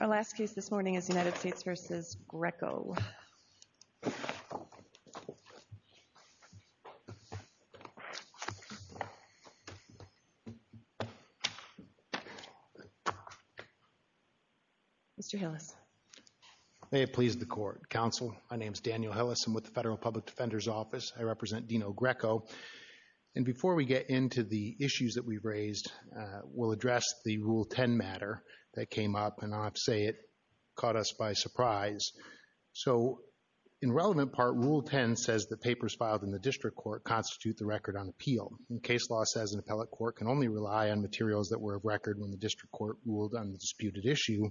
Our last case this morning is United States v. Greco. Mr. Hillis. May it please the Court, Counsel, my name is Daniel Hillis. I'm with the Federal Public that we've raised will address the Rule 10 matter that came up, and I'll have to say it caught us by surprise. So in relevant part, Rule 10 says that papers filed in the District Court constitute the record on appeal. Case law says an appellate court can only rely on materials that were of record when the District Court ruled on the disputed issue.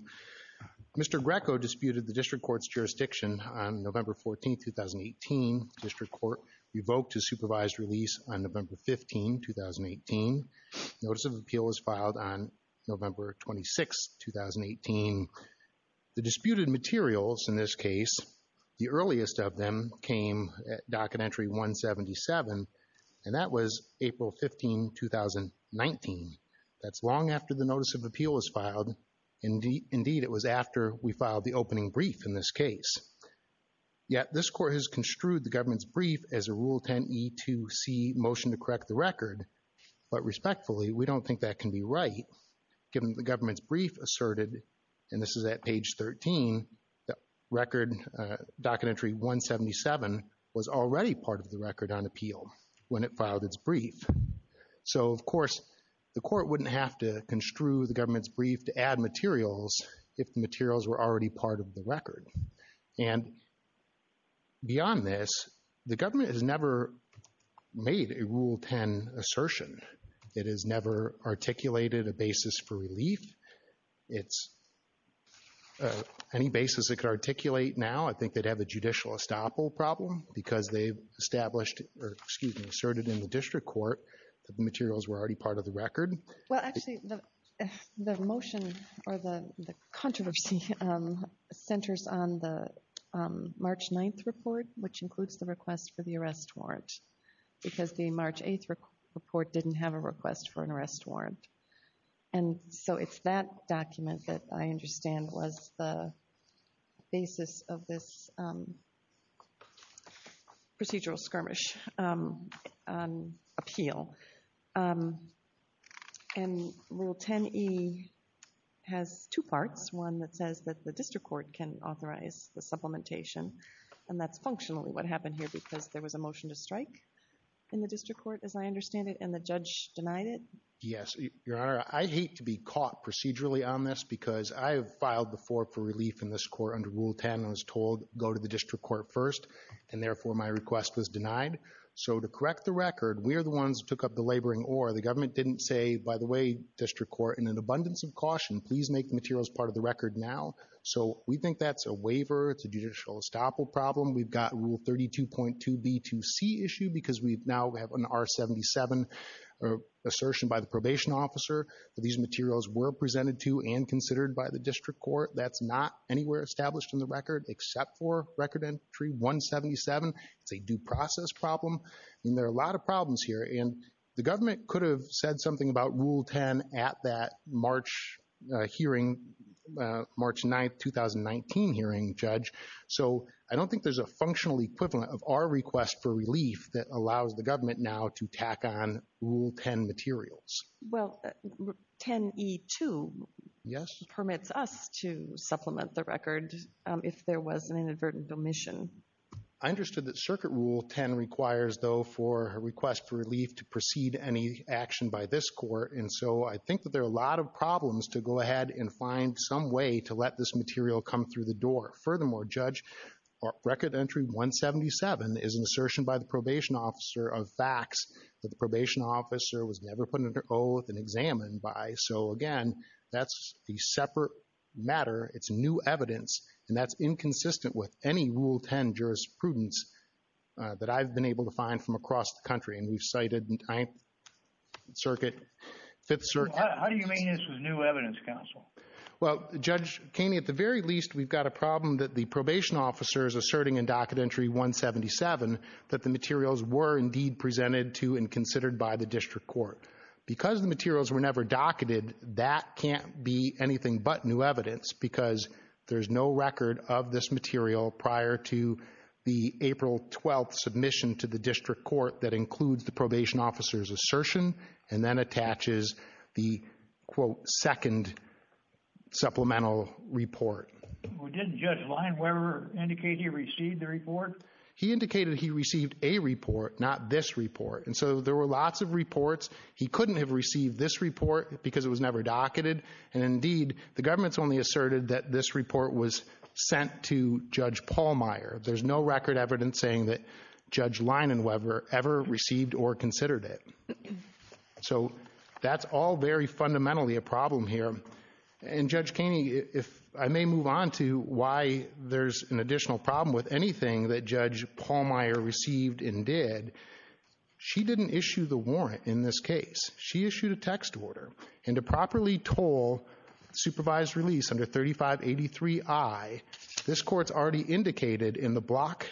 Mr. Greco disputed the District Court's jurisdiction on November 14, 2018. The District Court revoked his supervised release on November 15, 2018. Notice of Appeal was filed on November 26, 2018. The disputed materials in this case, the earliest of them came at Docket Entry 177, and that was April 15, 2019. That's long after the Notice of Appeal was filed. Indeed, it was after we filed the opening brief in this case. Yet this Court has construed the Rule 10 E2C motion to correct the record, but respectfully, we don't think that can be right given the government's brief asserted, and this is at page 13, that record, Docket Entry 177, was already part of the record on appeal when it filed its brief. So of course, the Court wouldn't have to construe the government's brief to add materials if the materials were already part of the record. And beyond this, the government has never made a Rule 10 assertion. It has never articulated a basis for relief. Any basis it could articulate now, I think they'd have a judicial estoppel problem because they've established, or excuse me, asserted in the District Court that the materials were already part of the record. Well, actually, the motion, or the controversy, centers on the March 9th report, which includes the request for the arrest warrant, because the March 8th report didn't have a request for an arrest warrant. And so it's that document that I understand was the basis of this procedural skirmish on appeal. And Rule 10e has two parts, one that says that the District Court can authorize the supplementation, and that's functionally what happened here because there was a motion to strike in the District Court, as I understand it, and the judge denied it? Yes, Your Honor, I'd hate to be caught procedurally on this because I have filed before for relief in this Court under Rule 10 and was told, go to the District Court first, and therefore my request was denied. So to correct the record, we're the ones who took up the laboring ore. The government didn't say, by the way, District Court, in an abundance of caution, please make the materials part of the record now. So we think that's a waiver, it's a judicial estoppel problem. We've got Rule 32.2b2c issue because we now have an R-77 assertion by the probation officer that these materials were presented to and considered by the District Court. That's not anywhere established in the record, except for Record Entry 177. It's a due process problem, and there are a lot of problems here. And the government could have said something about Rule 10 at that March hearing, March 9th, 2019 hearing, Judge. So I don't think there's a functional equivalent of our request for relief that allows the government now to tack on Rule 10 materials. Well, 10e2 permits us to supplement the record if there was an inadvertent omission. I understood that Circuit Rule 10 requires, though, for a request for relief to precede any action by this Court, and so I think that there are a lot of problems to go ahead and find some way to let this material come through the door. Furthermore, Judge, Record Entry 177 is an assertion by the probation officer of facts that the probation officer was never put under oath and examined by. So, again, that's a separate matter. It's new evidence, and that's inconsistent with any Rule 10 jurisprudence that I've been able to find from across the country, and we've cited in Ninth Circuit, Fifth Circuit. How do you mean this was new evidence, Counsel? Well, Judge Keeney, at the very least, we've got a problem that the probation officer is asserting in Docket Entry 177 that the materials were indeed presented to and considered by the District Court. Because the materials were never docketed, that can't be anything but new evidence because there's no record of this material prior to the April 12th submission to the District Court that includes the probation officer's assertion and then attaches the second supplemental report. Well, didn't Judge Lineweber indicate he received the report? He indicated he received a report, not this report, and so there were lots of reports. He couldn't have received this report because it was never docketed, and, indeed, the government's only asserted that this report was sent to Judge Pallmeyer. There's no record evidence saying that Judge Lineweber ever received or considered it. So that's all very fundamentally a problem here, and, Judge Keeney, if I may move on to why there's an additional problem with anything that Judge Pallmeyer received and did, she didn't issue the warrant in this case. She issued a text order, and to properly toll supervised release under 3583I, this Court's already indicated in the Block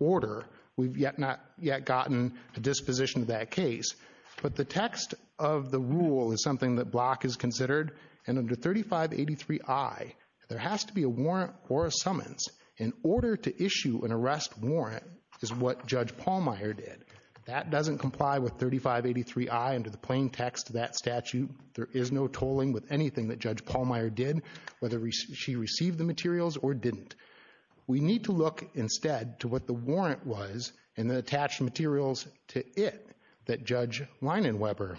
order we've yet not yet gotten a disposition to that case, but the text of the rule is something that Block has considered, and under 3583I, there has to be a warrant or a summons. In order to issue an arrest warrant is what Judge Pallmeyer did. That doesn't comply with 3583I under the plain text of that statute. There is no tolling with anything that Judge Pallmeyer did, whether she received the materials or didn't. We need to look instead to what the warrant was and the attached materials to it that Judge Lineweber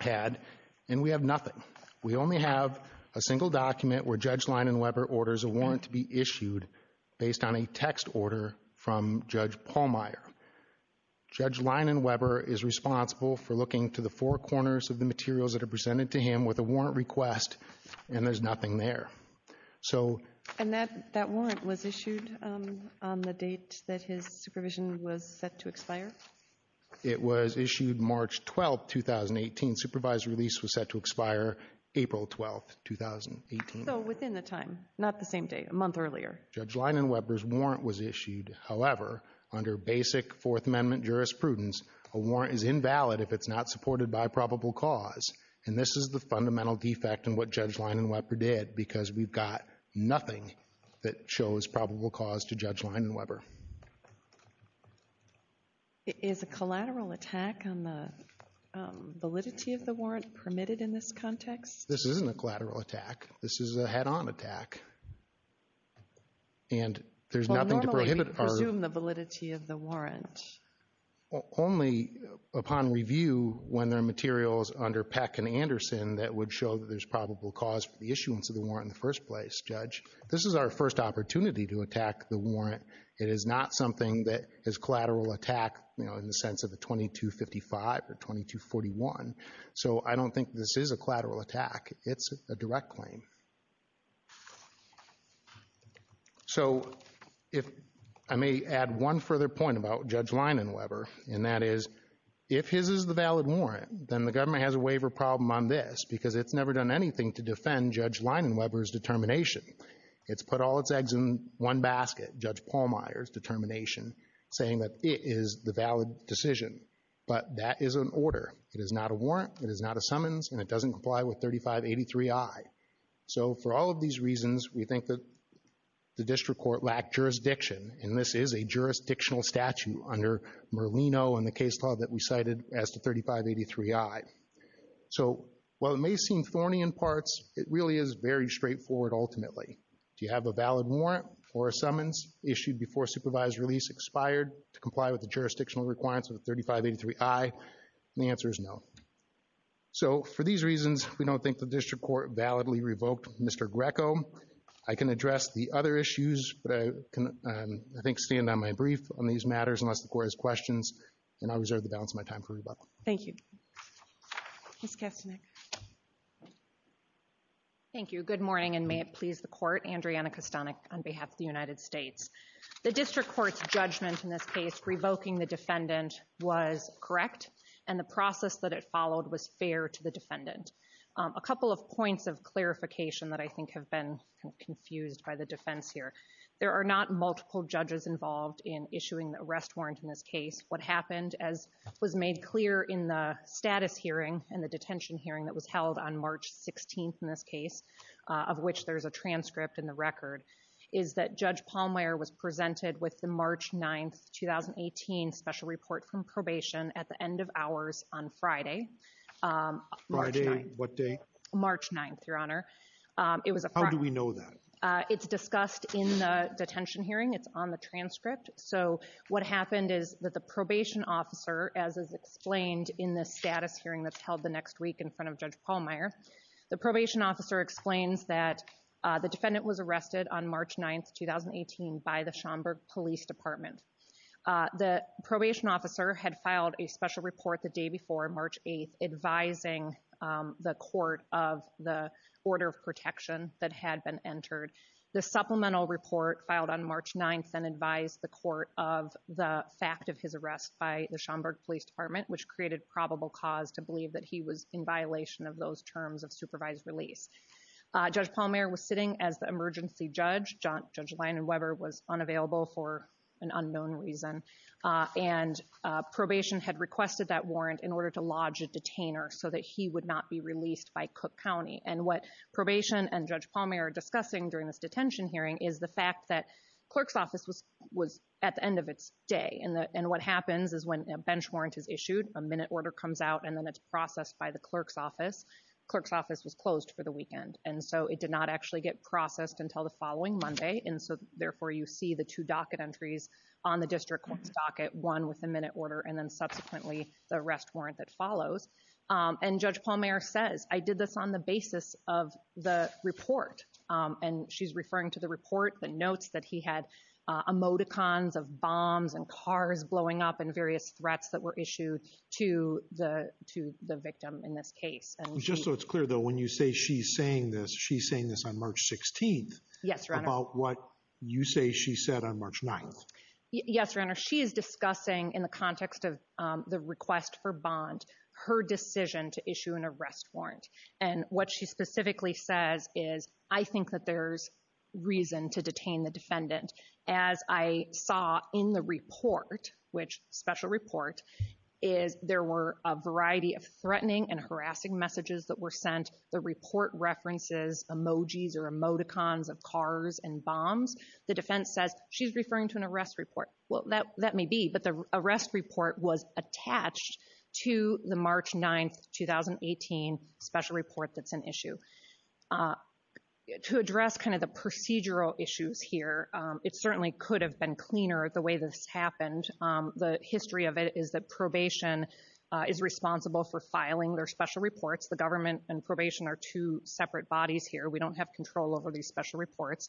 had, and we have nothing. We only have a single document where Judge Lineweber orders a warrant to be issued based on a text order from Judge Pallmeyer. Judge Lineweber is responsible for looking to the four corners of the materials that are presented to him with a warrant request, and there's nothing there. And that warrant was issued on the date that his supervision was set to expire? It was issued March 12, 2018. Supervised release was set to expire April 12, 2018. So within the time, not the same day, a month earlier. Judge Lineweber's warrant was issued. However, under basic Fourth Amendment jurisprudence, a warrant is invalid if it's not supported by probable cause, and this is the fundamental defect in what Judge Lineweber did because we've got nothing that shows probable cause to Judge Lineweber. Is a collateral attack on the validity of the warrant permitted in this context? This isn't a collateral attack. This is a head-on attack. And there's nothing to prohibit... Well, normally we presume the validity of the warrant. Only upon review when there are materials under Peck and Anderson that would show that there's probable cause for the issuance of the warrant in the first place, Judge. This is our first opportunity to attack the warrant. It is not something that is collateral attack, you know, in the sense of a 2255 or 2241. So I don't think this is a collateral attack. It's a direct claim. So if I may add one further point about Judge Lineweber, and that is, if his is the valid warrant, then the government has a waiver problem on this because it's never done anything to one basket, Judge Pallmeyer's determination, saying that it is the valid decision. But that is an order. It is not a warrant. It is not a summons, and it doesn't comply with 3583I. So for all of these reasons, we think that the district court lacked jurisdiction, and this is a jurisdictional statute under Merlino and the case law that we cited as to 3583I. So while it may seem thorny in parts, it really is very straightforward ultimately. Do you have a valid warrant or a summons issued before supervised release expired to comply with the jurisdictional requirements of 3583I? And the answer is no. So for these reasons, we don't think the district court validly revoked Mr. Greco. I can address the other issues, but I can, I think, stand on my brief on these matters unless the court has questions, and I reserve the balance of my time for rebuttal. Thank you. Ms. Kastanek. Thank you. Good morning, and may it please the court. Andriana Kastanek on behalf of the United States. The district court's judgment in this case revoking the defendant was correct, and the process that it followed was fair to the defendant. A couple of points of clarification that I think have been confused by the defense here. There are not multiple judges involved in issuing the arrest warrant in this case. What happened, as was made clear in the status hearing and the detention hearing that was held on March 16th in this case, of which there's a transcript in the record, is that Judge Palmweir was presented with the March 9th, 2018 special report from probation at the end of hours on Friday. Friday, what day? March 9th, Your Honor. It was a... How do we know that? It's discussed in the detention hearing. It's on the transcript. So what happened is that the probation officer, as is explained in the status hearing that's held the next week in front of Judge Palmweir, the probation officer explains that the defendant was arrested on March 9th, 2018 by the Schomburg Police Department. The probation officer had filed a special report the day before, March 8th, advising the court of the order of protection that had been entered. The supplemental report filed on March 9th and advised the court of the fact of his arrest by the Schomburg Police Department, which created probable cause to believe that he was in violation of those terms of supervised release. Judge Palmweir was sitting as the emergency judge. Judge Lyon and Weber was unavailable for an unknown reason. And probation had requested that warrant in order to lodge a detainer so that he would not be released by Cook County. And what probation and Judge Palmweir are discussing during this detention hearing is the fact that clerk's office was at the end of its day. And what happens is when a bench warrant is issued, a minute order comes out and then it's processed by the clerk's office. Clerk's office was closed for the weekend. And so it did not actually get processed until the following Monday. And so therefore you see the two docket entries on the district court's docket, one with follows. And Judge Palmweir says, I did this on the basis of the report. And she's referring to the report that notes that he had emoticons of bombs and cars blowing up and various threats that were issued to the to the victim in this case. And just so it's clear, though, when you say she's saying this, she's saying this on March 16th. Yes. About what you say she said on March 9th. Yes, your honor. She is discussing in the context of the request for bond her decision to issue an arrest warrant. And what she specifically says is I think that there's reason to detain the defendant. As I saw in the report, which special report is there were a variety of threatening and harassing messages that were sent. The report references emojis or emoticons of cars and bombs. The defense says she's referring to an arrest report. Well, that that may be. But the arrest report was attached to the March 9th, 2018 special report. That's an issue to address kind of the procedural issues here. It certainly could have been cleaner the way this happened. The history of it is that probation is responsible for filing their special reports. The government and probation are two separate bodies here. We don't have control over these special reports.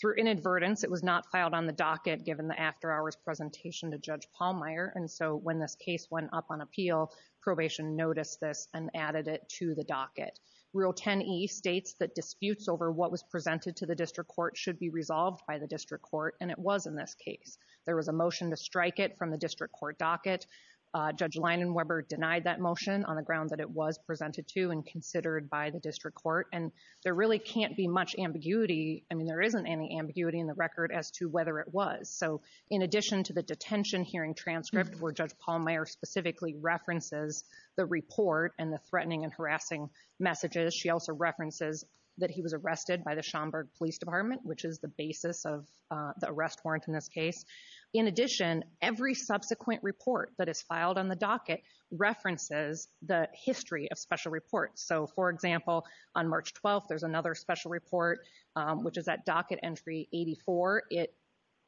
Through inadvertence, it was not filed on the docket given the after hours presentation to Judge Pallmeyer. And so when this case went up on appeal, probation noticed this and added it to the docket. Rule 10E states that disputes over what was presented to the district court should be resolved by the district court. And it was in this case. There was a motion to strike it from the district court docket. Judge Leinenweber denied that motion on the ground that it was court. And there really can't be much ambiguity. I mean, there isn't any ambiguity in the record as to whether it was. So in addition to the detention hearing transcript where Judge Pallmeyer specifically references the report and the threatening and harassing messages, she also references that he was arrested by the Schomburg Police Department, which is the basis of the arrest warrant in this case. In addition, every subsequent report that is filed on the docket references the history of special reports. So, for example, on March 12th, there's another special report, which is that docket entry 84. It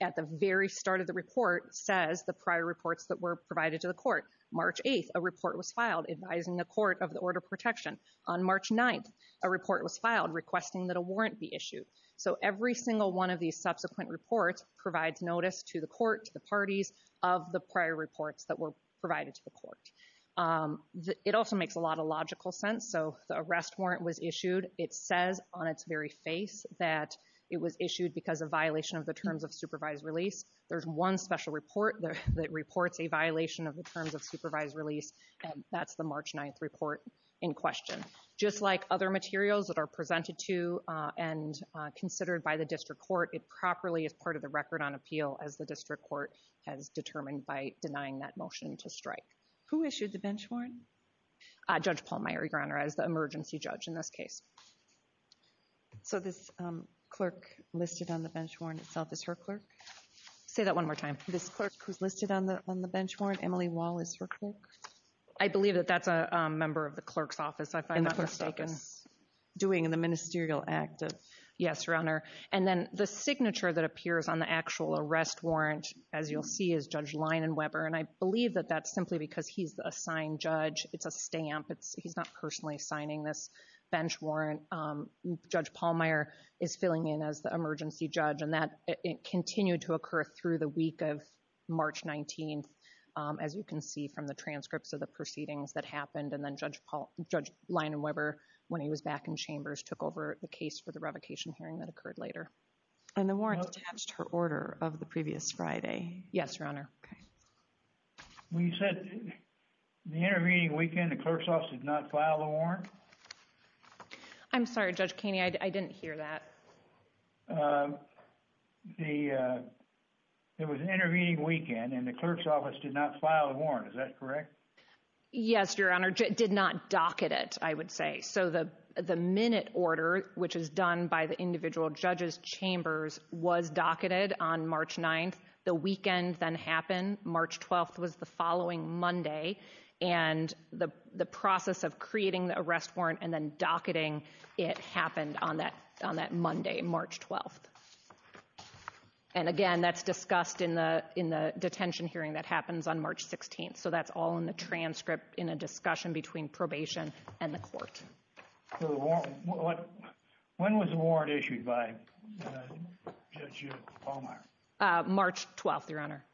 at the very start of the report says the prior reports that were provided to the court. March 8th, a report was filed advising the court of the order protection. On March 9th, a report was filed requesting that a warrant be issued. So every single one of these subsequent reports provides notice to the court, to the parties of the prior reports that were provided to the court. It also makes a lot of logical sense. So the arrest warrant was issued. It says on its very face that it was issued because of violation of the terms of supervised release. There's one special report that reports a violation of the terms of supervised release, and that's the March 9th report in question. Just like other materials that are presented to and considered by the district court, it properly is part of the record on appeal as the motion to strike. Who issued the bench warrant? Judge Paul Meier, Your Honor, as the emergency judge in this case. So this clerk listed on the bench warrant itself is her clerk? Say that one more time. This clerk who's listed on the bench warrant, Emily Wall is her clerk? I believe that that's a member of the clerk's office, if I'm not mistaken. Doing the ministerial act. Yes, Your Honor. And then the signature that appears on the actual arrest warrant, as you'll see, is Judge Leinenweber, and I believe that that's simply because he's a signed judge. It's a stamp. He's not personally signing this bench warrant. Judge Paul Meier is filling in as the emergency judge, and that continued to occur through the week of March 19th, as you can see from the transcripts of the proceedings that happened. And then Judge Leinenweber, when he was back in chambers, took over the case for the revocation hearing that occurred the previous Friday. Yes, Your Honor. Okay. When you said the intervening weekend, the clerk's office did not file a warrant? I'm sorry, Judge Kaney, I didn't hear that. It was an intervening weekend, and the clerk's office did not file a warrant. Is that correct? Yes, Your Honor. Did not docket it, I would say. So the minute order, which is done by the clerk's office on March 9th, the weekend then happened. March 12th was the following Monday, and the process of creating the arrest warrant and then docketing it happened on that Monday, March 12th. And again, that's discussed in the detention hearing that happens on March 16th, so that's all in the transcript in a discussion between probation and the court. So when was the warrant issued by Judge Baumeyer? March 12th, Your Honor.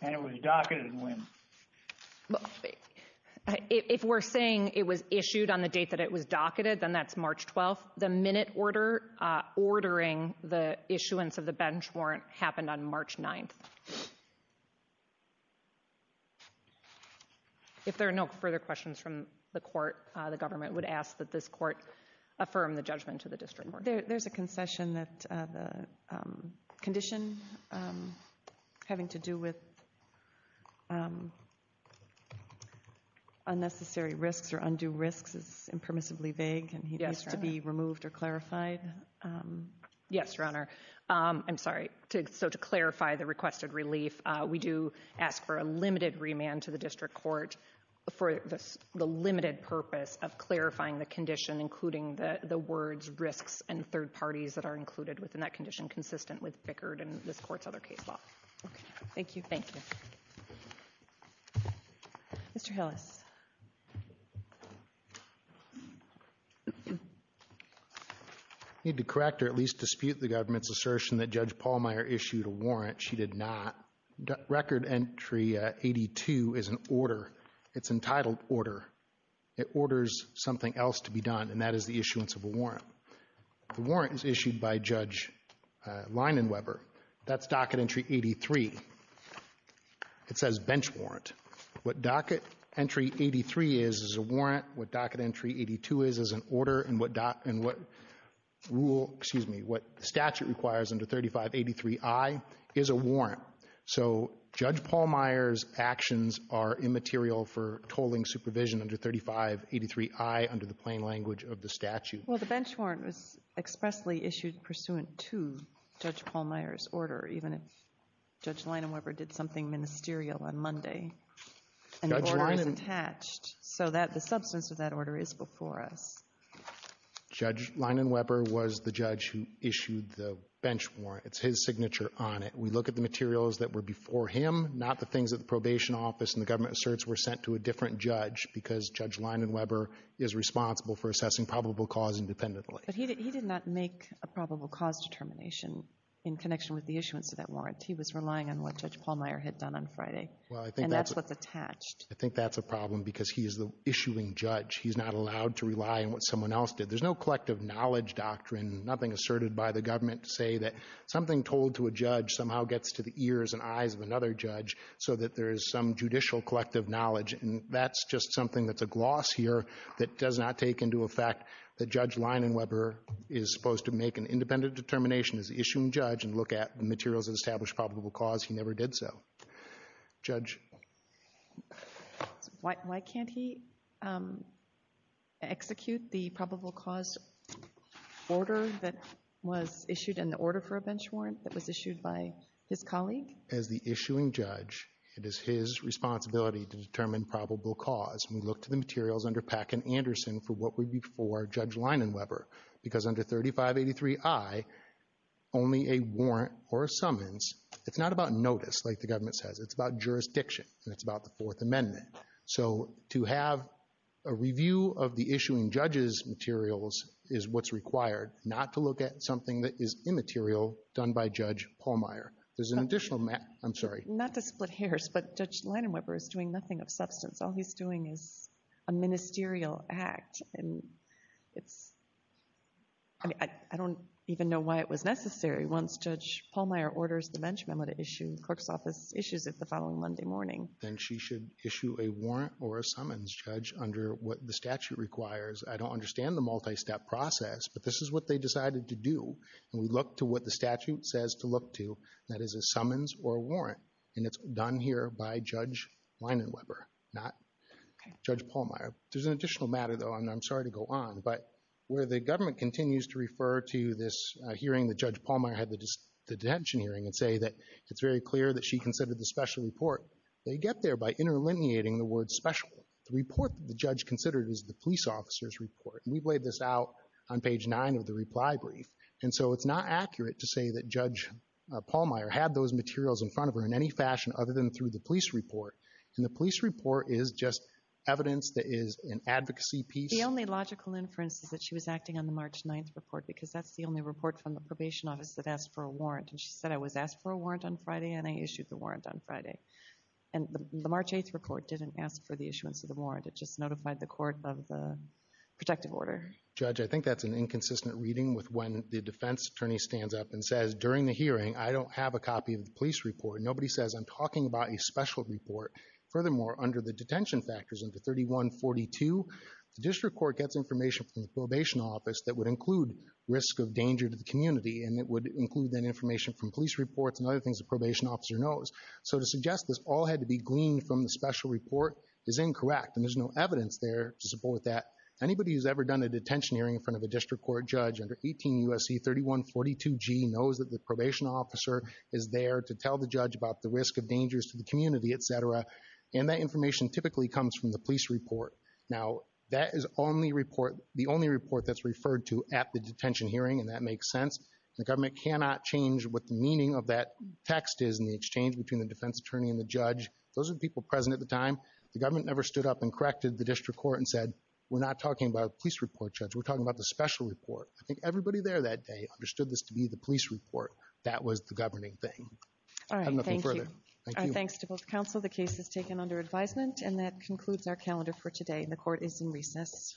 And it was docketed when? If we're saying it was issued on the date that it was docketed, then that's March 12th. The minute order ordering the issuance of the bench warrant happened on March 9th. If there are no further questions from the court, the government would ask that this court affirm the judgment to the district court. There's a concession that the condition having to do with unnecessary risks or undue risks is impermissibly vague, and it needs to be removed or clarified. Yes, Your Honor. I'm sorry. So to clarify the requested relief, we do ask for a limited remand to the district court for the limited purpose of clarifying the condition, including the words risks and third parties that are included within that condition consistent with Bickard and this court's other case law. Thank you. Thank you. Mr. Hillis. I need to correct or at least dispute the government's assertion that Judge Paulmeyer issued a warrant. She did not. Record entry 82 is an order. It's entitled order. It orders something else to be done, and that is the issuance of a warrant. The warrant is issued by Judge Leinenweber. That's docket entry 83. It says bench warrant. What docket entry 83 is is a warrant. What docket entry 82 is is an order. And what excuse me, what statute requires under 3583I is a warrant. So Judge Paulmeyer's actions are immaterial for tolling supervision under 3583I under the plain language of the statute. Well, the bench warrant was expressly issued pursuant to Judge Paulmeyer's order, even if Judge Leinenweber did something ministerial on Monday. And the order is attached, so that the substance of that order is before us. Judge Leinenweber was the judge who issued the bench warrant. It's his signature on it. We look at the materials that were before him, not the things that the probation office and the government asserts were sent to a different judge, because Judge Leinenweber is responsible for assessing probable cause independently. But he did not make a probable cause determination in connection with the issuance of that warrant. He was relying on what Judge Paulmeyer had done on Friday. Well, I think that's what's attached. I think that's a problem because he is the someone else did. There's no collective knowledge doctrine, nothing asserted by the government to say that something told to a judge somehow gets to the ears and eyes of another judge, so that there is some judicial collective knowledge. And that's just something that's a gloss here that does not take into effect that Judge Leinenweber is supposed to make an independent determination as the issuing judge and look at the materials that establish probable cause. He never did so. Judge? Why can't he execute the probable cause order that was issued in the order for a bench warrant that was issued by his colleague? As the issuing judge, it is his responsibility to determine probable cause. We look to the materials under Pack and Anderson for what would be for Judge Leinenweber, because under 3583I, only a warrant or a summons it's not about notice, like the government says. It's about jurisdiction, and it's about the Fourth Amendment. So to have a review of the issuing judge's materials is what's required, not to look at something that is immaterial done by Judge Paulmeyer. There's an additional... I'm sorry. Not to split hairs, but Judge Leinenweber is doing nothing of substance. All he's doing is a ministerial act, and it's... I mean, I don't even know why it was necessary once Judge Paulmeyer orders the bench memo to issue the clerk's office issues the following Monday morning. Then she should issue a warrant or a summons, Judge, under what the statute requires. I don't understand the multi-step process, but this is what they decided to do, and we look to what the statute says to look to. That is a summons or warrant, and it's done here by Judge Leinenweber, not Judge Paulmeyer. There's an additional matter, though, and I'm sorry to go on, but where the government continues to refer to this hearing that Judge Paulmeyer had, the detention hearing, and say that it's very clear that she considered the special report, they get there by interlineating the word special. The report that the judge considered is the police officer's report, and we've laid this out on page nine of the reply brief, and so it's not accurate to say that Judge Paulmeyer had those materials in front of her in any fashion other than through the police report, and the police report is just evidence that is an advocacy piece. The only logical inference is that she was acting on the March 9th report, because that's the only report from the probation office that asked for a warrant, and she said, I was asked for a warrant on Friday, and I issued the warrant on Friday, and the March 8th report didn't ask for the issuance of the warrant. It just notified the court of the protective order. Judge, I think that's an inconsistent reading with when the defense attorney stands up and says, during the hearing, I don't have a copy of the police report. Nobody says, I'm talking about a special report. Furthermore, under the detention factors under 3142, the district court gets information from the probation office that would include risk of danger to the community, and it would include, then, information from police reports and other things the probation officer knows. So to suggest this all had to be gleaned from the special report is incorrect, and there's no evidence there to support that. Anybody who's ever done a detention hearing in front of a district court judge under 18 U.S.C. 3142g knows that the probation officer is there to tell the community, etc., and that information typically comes from the police report. Now, that is only report, the only report that's referred to at the detention hearing, and that makes sense. The government cannot change what the meaning of that text is in the exchange between the defense attorney and the judge. Those are the people present at the time. The government never stood up and corrected the district court and said, we're not talking about a police report, Judge. We're talking about the special report. I think everybody there that day understood this to be the police report. That was the governing thing. All right, thank you. I have nothing further. Thank you. Our thanks to both counsel. The case is taken under advisement, and that concludes our calendar for today, and the court is in recess.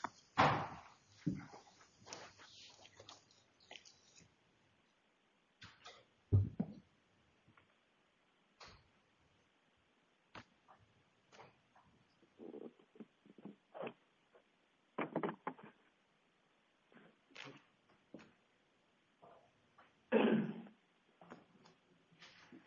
Thank you.